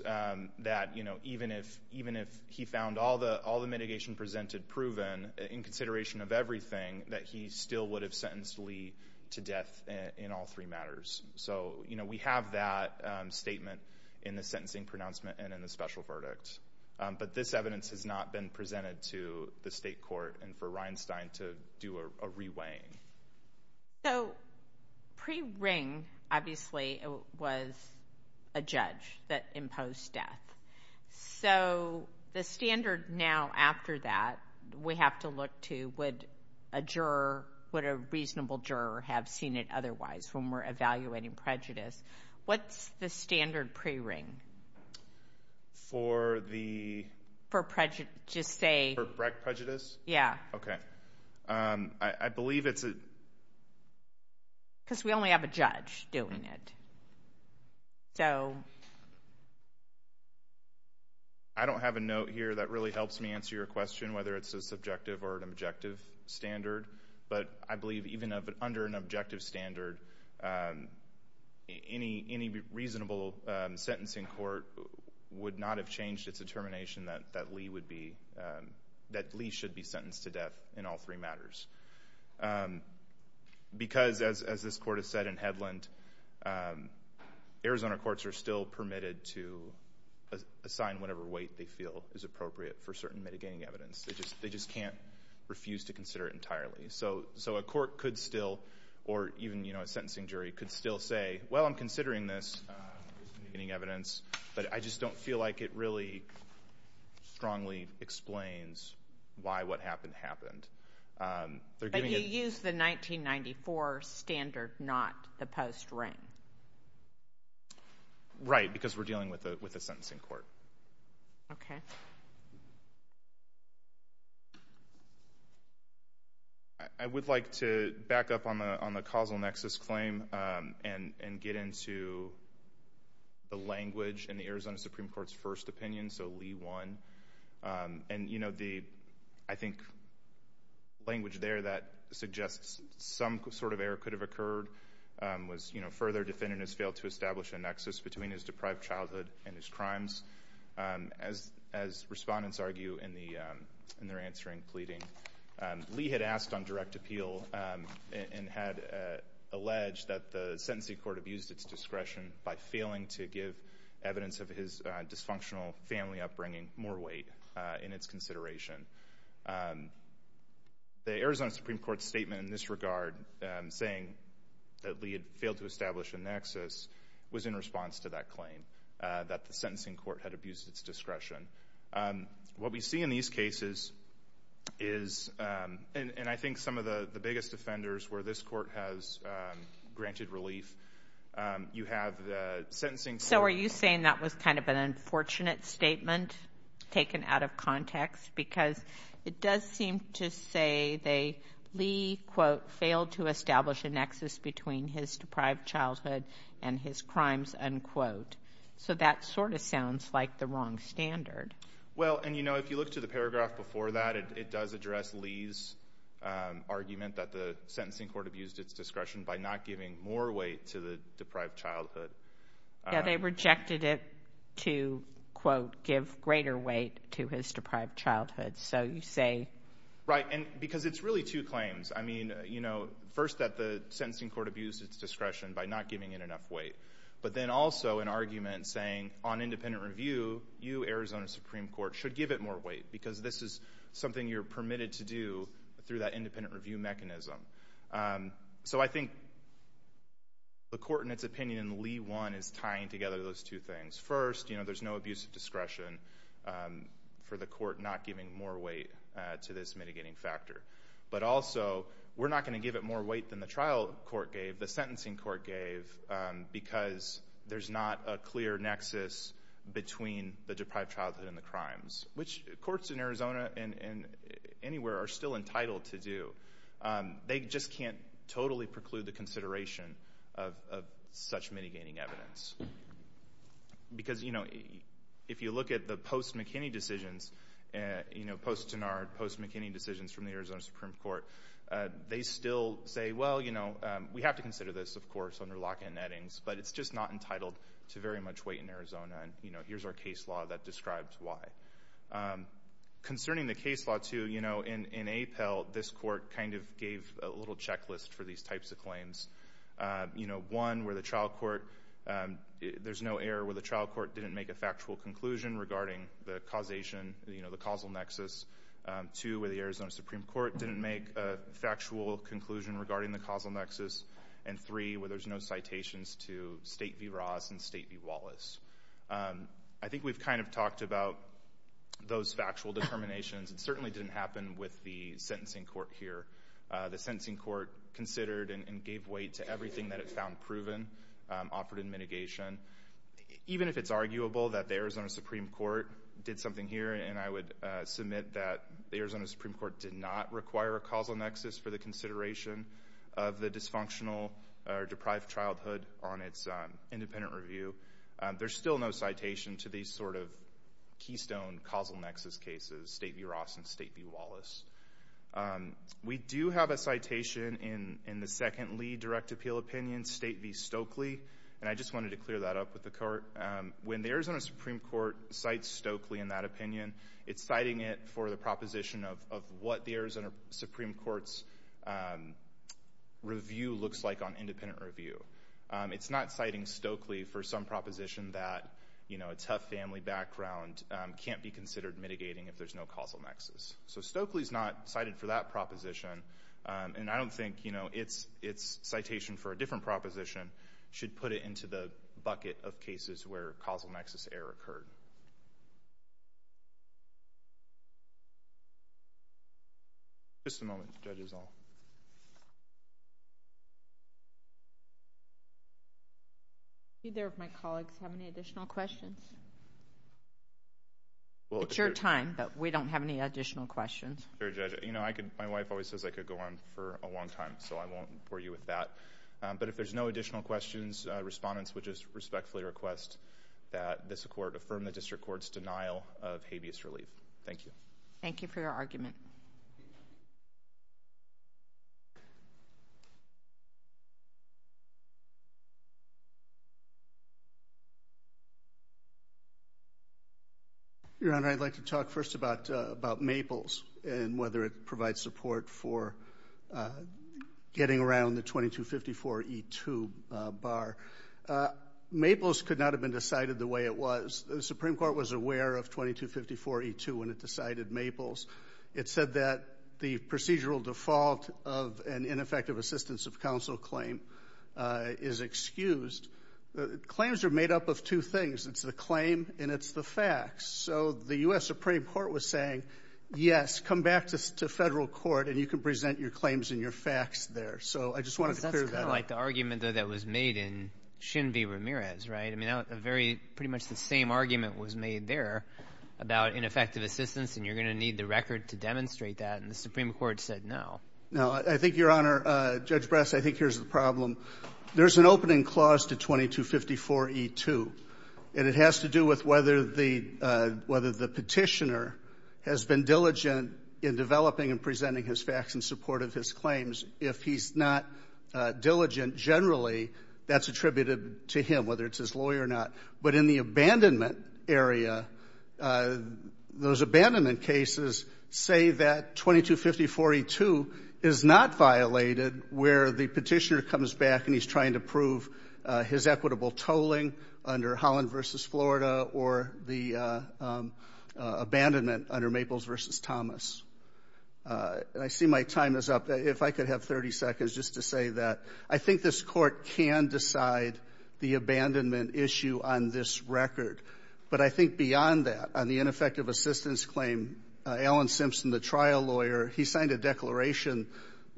that, you know, even if he found all the mitigation presented proven in consideration of everything, that he still would have sentenced Lee to death in all three matters. So, you know, we have that statement in the sentencing pronouncement and in the special verdict. But this evidence has not been presented to the state court and for Reinstein to do a re-weighing. So, pre-ring, obviously, it was a judge that imposed death. So, the standard now after that, we have to look to, would a juror, would a reasonable juror have seen it otherwise when we're evaluating prejudice? What's the standard pre-ring? For the... For prejudice, just say... For prejudice? Yeah. Okay. I believe it's a... Because we only have a judge doing it. So... I don't have a note here that really helps me answer your question whether it's a subjective or an objective standard. But I believe even under an objective standard, any reasonable sentencing court would not have changed its determination that Lee would be, that Lee should be sentenced to death in all three matters. Because as this court has said in Hedlund, Arizona courts are still permitted to assign whatever weight they feel is appropriate for certain mitigating evidence. They just can't refuse to consider it entirely. So, a court could still, or even a sentencing jury could still say, well, I'm considering this mitigating evidence, but I just don't feel like it really strongly explains why what happened, happened. But you used the 1994 standard, not the post-ring. Right. Because we're dealing with a sentencing court. Okay. I would like to back up on the causal nexus claim and get into the language in the Arizona Supreme Court's first opinion. So, Lee won. And the, I think, language there that suggests some sort of error could have occurred was further defendant has failed to establish a nexus between his deprived childhood and his crimes. As respondents argue in their answering pleading, Lee had asked on direct appeal and had alleged that the sentencing court abused its discretion by failing to give evidence of his dysfunctional family upbringing more weight in its consideration. The Arizona Supreme Court's statement in this regard, saying that Lee had failed to establish a nexus, was in response to that claim, that the sentencing court had abused its discretion. What we see in these cases is, and I think some of the biggest offenders where this court has granted relief, you have the sentencing. So, are you saying that was kind of an unfortunate statement taken out of context? Because it does seem to say they, Lee, quote, failed to establish a nexus between his deprived childhood and his crimes, unquote. So, that sort of sounds like the wrong standard. Well, and you know, if you look to the paragraph before that, it does address Lee's argument that the sentencing court abused its discretion by not giving more weight to the deprived childhood. Yeah, they rejected it to, quote, give greater weight to his deprived childhood. So, you say... Right, and because it's really two claims. I mean, you know, first that the sentencing court abused its discretion by not giving it enough weight, but then also an argument saying, on independent review, you, Arizona Supreme Court, should give it more weight, because this is something you're permitted to do through that independent review mechanism. So, I think the court, in its opinion, and Lee, one, is tying together those two things. First, you know, there's no abuse of discretion for the court not giving more weight to this mitigating factor. But also, we're not going to give it more weight than the trial court gave, the sentencing court gave, because there's not a clear nexus between the deprived childhood and the crimes, which courts in Arizona and anywhere are still entitled to do. They just can't totally preclude the consideration of such mitigating evidence. Because, you know, if you look at the post-McKinney decisions, you know, post-Tenard, post-McKinney decisions from the Arizona Supreme Court, they still say, well, you know, we have to consider this, of course, under lock-in nettings, but it's just not entitled to very much weight in Arizona, and, you know, here's our case law that describes why. Concerning the case law, too, you know, in APEL, this court kind of gave a little checklist for these types of claims. You know, one, where the trial court, there's no error where the trial court didn't make a factual conclusion regarding the causation, you know, the causal nexus. Two, where the Arizona Supreme Court didn't make a factual conclusion regarding the causal nexus. And three, where there's no citations to State v. Ross and State v. Wallace. I think we've kind of talked about those factual determinations. It certainly didn't happen with the sentencing court here. The sentencing court considered and gave weight to everything that it found proven, offered in mitigation. Even if it's arguable that the Arizona Supreme Court did something here, and I would submit that the Arizona Supreme Court did not require a causal nexus for the consideration of the dysfunctional or deprived childhood on its independent review, there's still no citation to these sort of keystone causal nexus cases, State v. Ross and State v. Wallace. We do have a citation in the second Lee direct appeal opinion, State v. Stokely, and I just wanted to clear that up with the court. When the Arizona Supreme Court cites Stokely in that opinion, it's citing it for the proposition of what the Arizona Supreme Court's review looks like on independent review. It's not citing Stokely for some proposition that, you know, a tough family background can't be considered mitigating if there's no causal nexus. So Stokely is not cited for that proposition, and I don't think, you know, its citation for a different proposition should put it into the bucket of cases where causal nexus error occurred. Just a moment, Judge Isall. Do either of my colleagues have any additional questions? It's your time, but we don't have any additional questions. My wife always says I could go on for a long time, so I won't bore you with that. But if there's no additional questions, respondents would just respectfully request that this court affirm the district court's denial of habeas relief. Thank you. Thank you for your argument. Your Honor, I'd like to talk first about Maples and whether it provides support for getting around the 2254E2 bar. Maples could not have been decided the way it was. The Supreme Court said that the procedural default of an ineffective assistance of counsel claim is excused. Claims are made up of two things. It's the claim and it's the facts. So the U.S. Supreme Court was saying, yes, come back to federal court and you can present your claims and your facts there. So I just wanted to clear that up. That's kind of like the argument that was made in Shin v. Ramirez, right? I mean, pretty much the same argument was made there about ineffective assistance and you're going to need the record to demonstrate that, and the Supreme Court said no. No, I think, Your Honor, Judge Bress, I think here's the problem. There's an opening clause to 2254E2, and it has to do with whether the petitioner has been diligent in developing and presenting his facts in support of his claims. If he's not diligent, generally, that's attributed to him, whether it's his lawyer or not. But in the abandonment area, those abandonment cases say that 2250E2 is not violated where the petitioner comes back and he's trying to prove his equitable tolling under Holland v. Florida or the abandonment under Maples v. Thomas. I see my time is up. If I could have 30 seconds just to say that. I think this Court can decide the abandonment issue on this record, but I think beyond that, on the ineffective assistance claim, Alan Simpson, the trial lawyer, he signed a declaration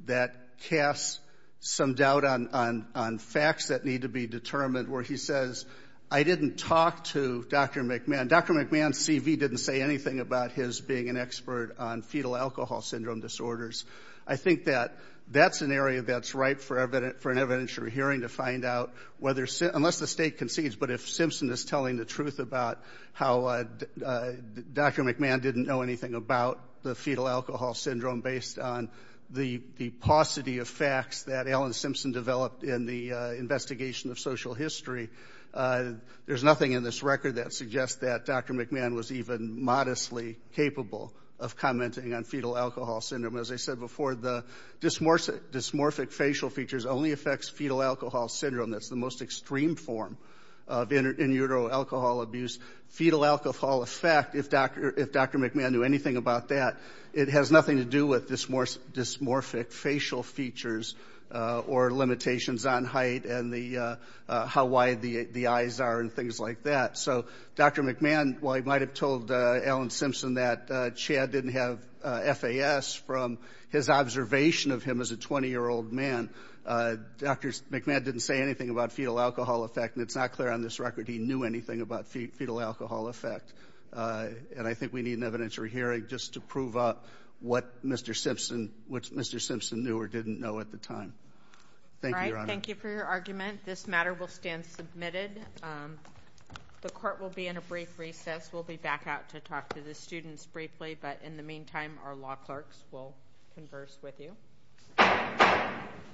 that casts some doubt on facts that need to be determined where he says, I didn't talk to Dr. McMahon. Dr. McMahon's CV didn't say anything about his being an expert on fetal alcohol disorders. I think that's an area that's ripe for an evidentiary hearing to find out, unless the State concedes, but if Simpson is telling the truth about how Dr. McMahon didn't know anything about the fetal alcohol syndrome based on the paucity of facts that Alan Simpson developed in the investigation of social history, there's nothing in this record that suggests that on fetal alcohol syndrome. As I said before, the dysmorphic facial features only affects fetal alcohol syndrome. That's the most extreme form of in utero alcohol abuse. Fetal alcohol effect, if Dr. McMahon knew anything about that, it has nothing to do with dysmorphic facial features or limitations on height and how wide the eyes are and things like that. So Dr. McMahon, while he might have told Alan Simpson that Chad didn't have FAS from his observation of him as a 20-year-old man, Dr. McMahon didn't say anything about fetal alcohol effect, and it's not clear on this record he knew anything about fetal alcohol effect. And I think we need an evidentiary hearing just to prove what Mr. Simpson knew or didn't know at the time. Thank you, Your Honor. This matter will stand submitted. The court will be in a brief recess. We'll be back out to talk to the students briefly, but in the meantime, our law clerks will converse with you.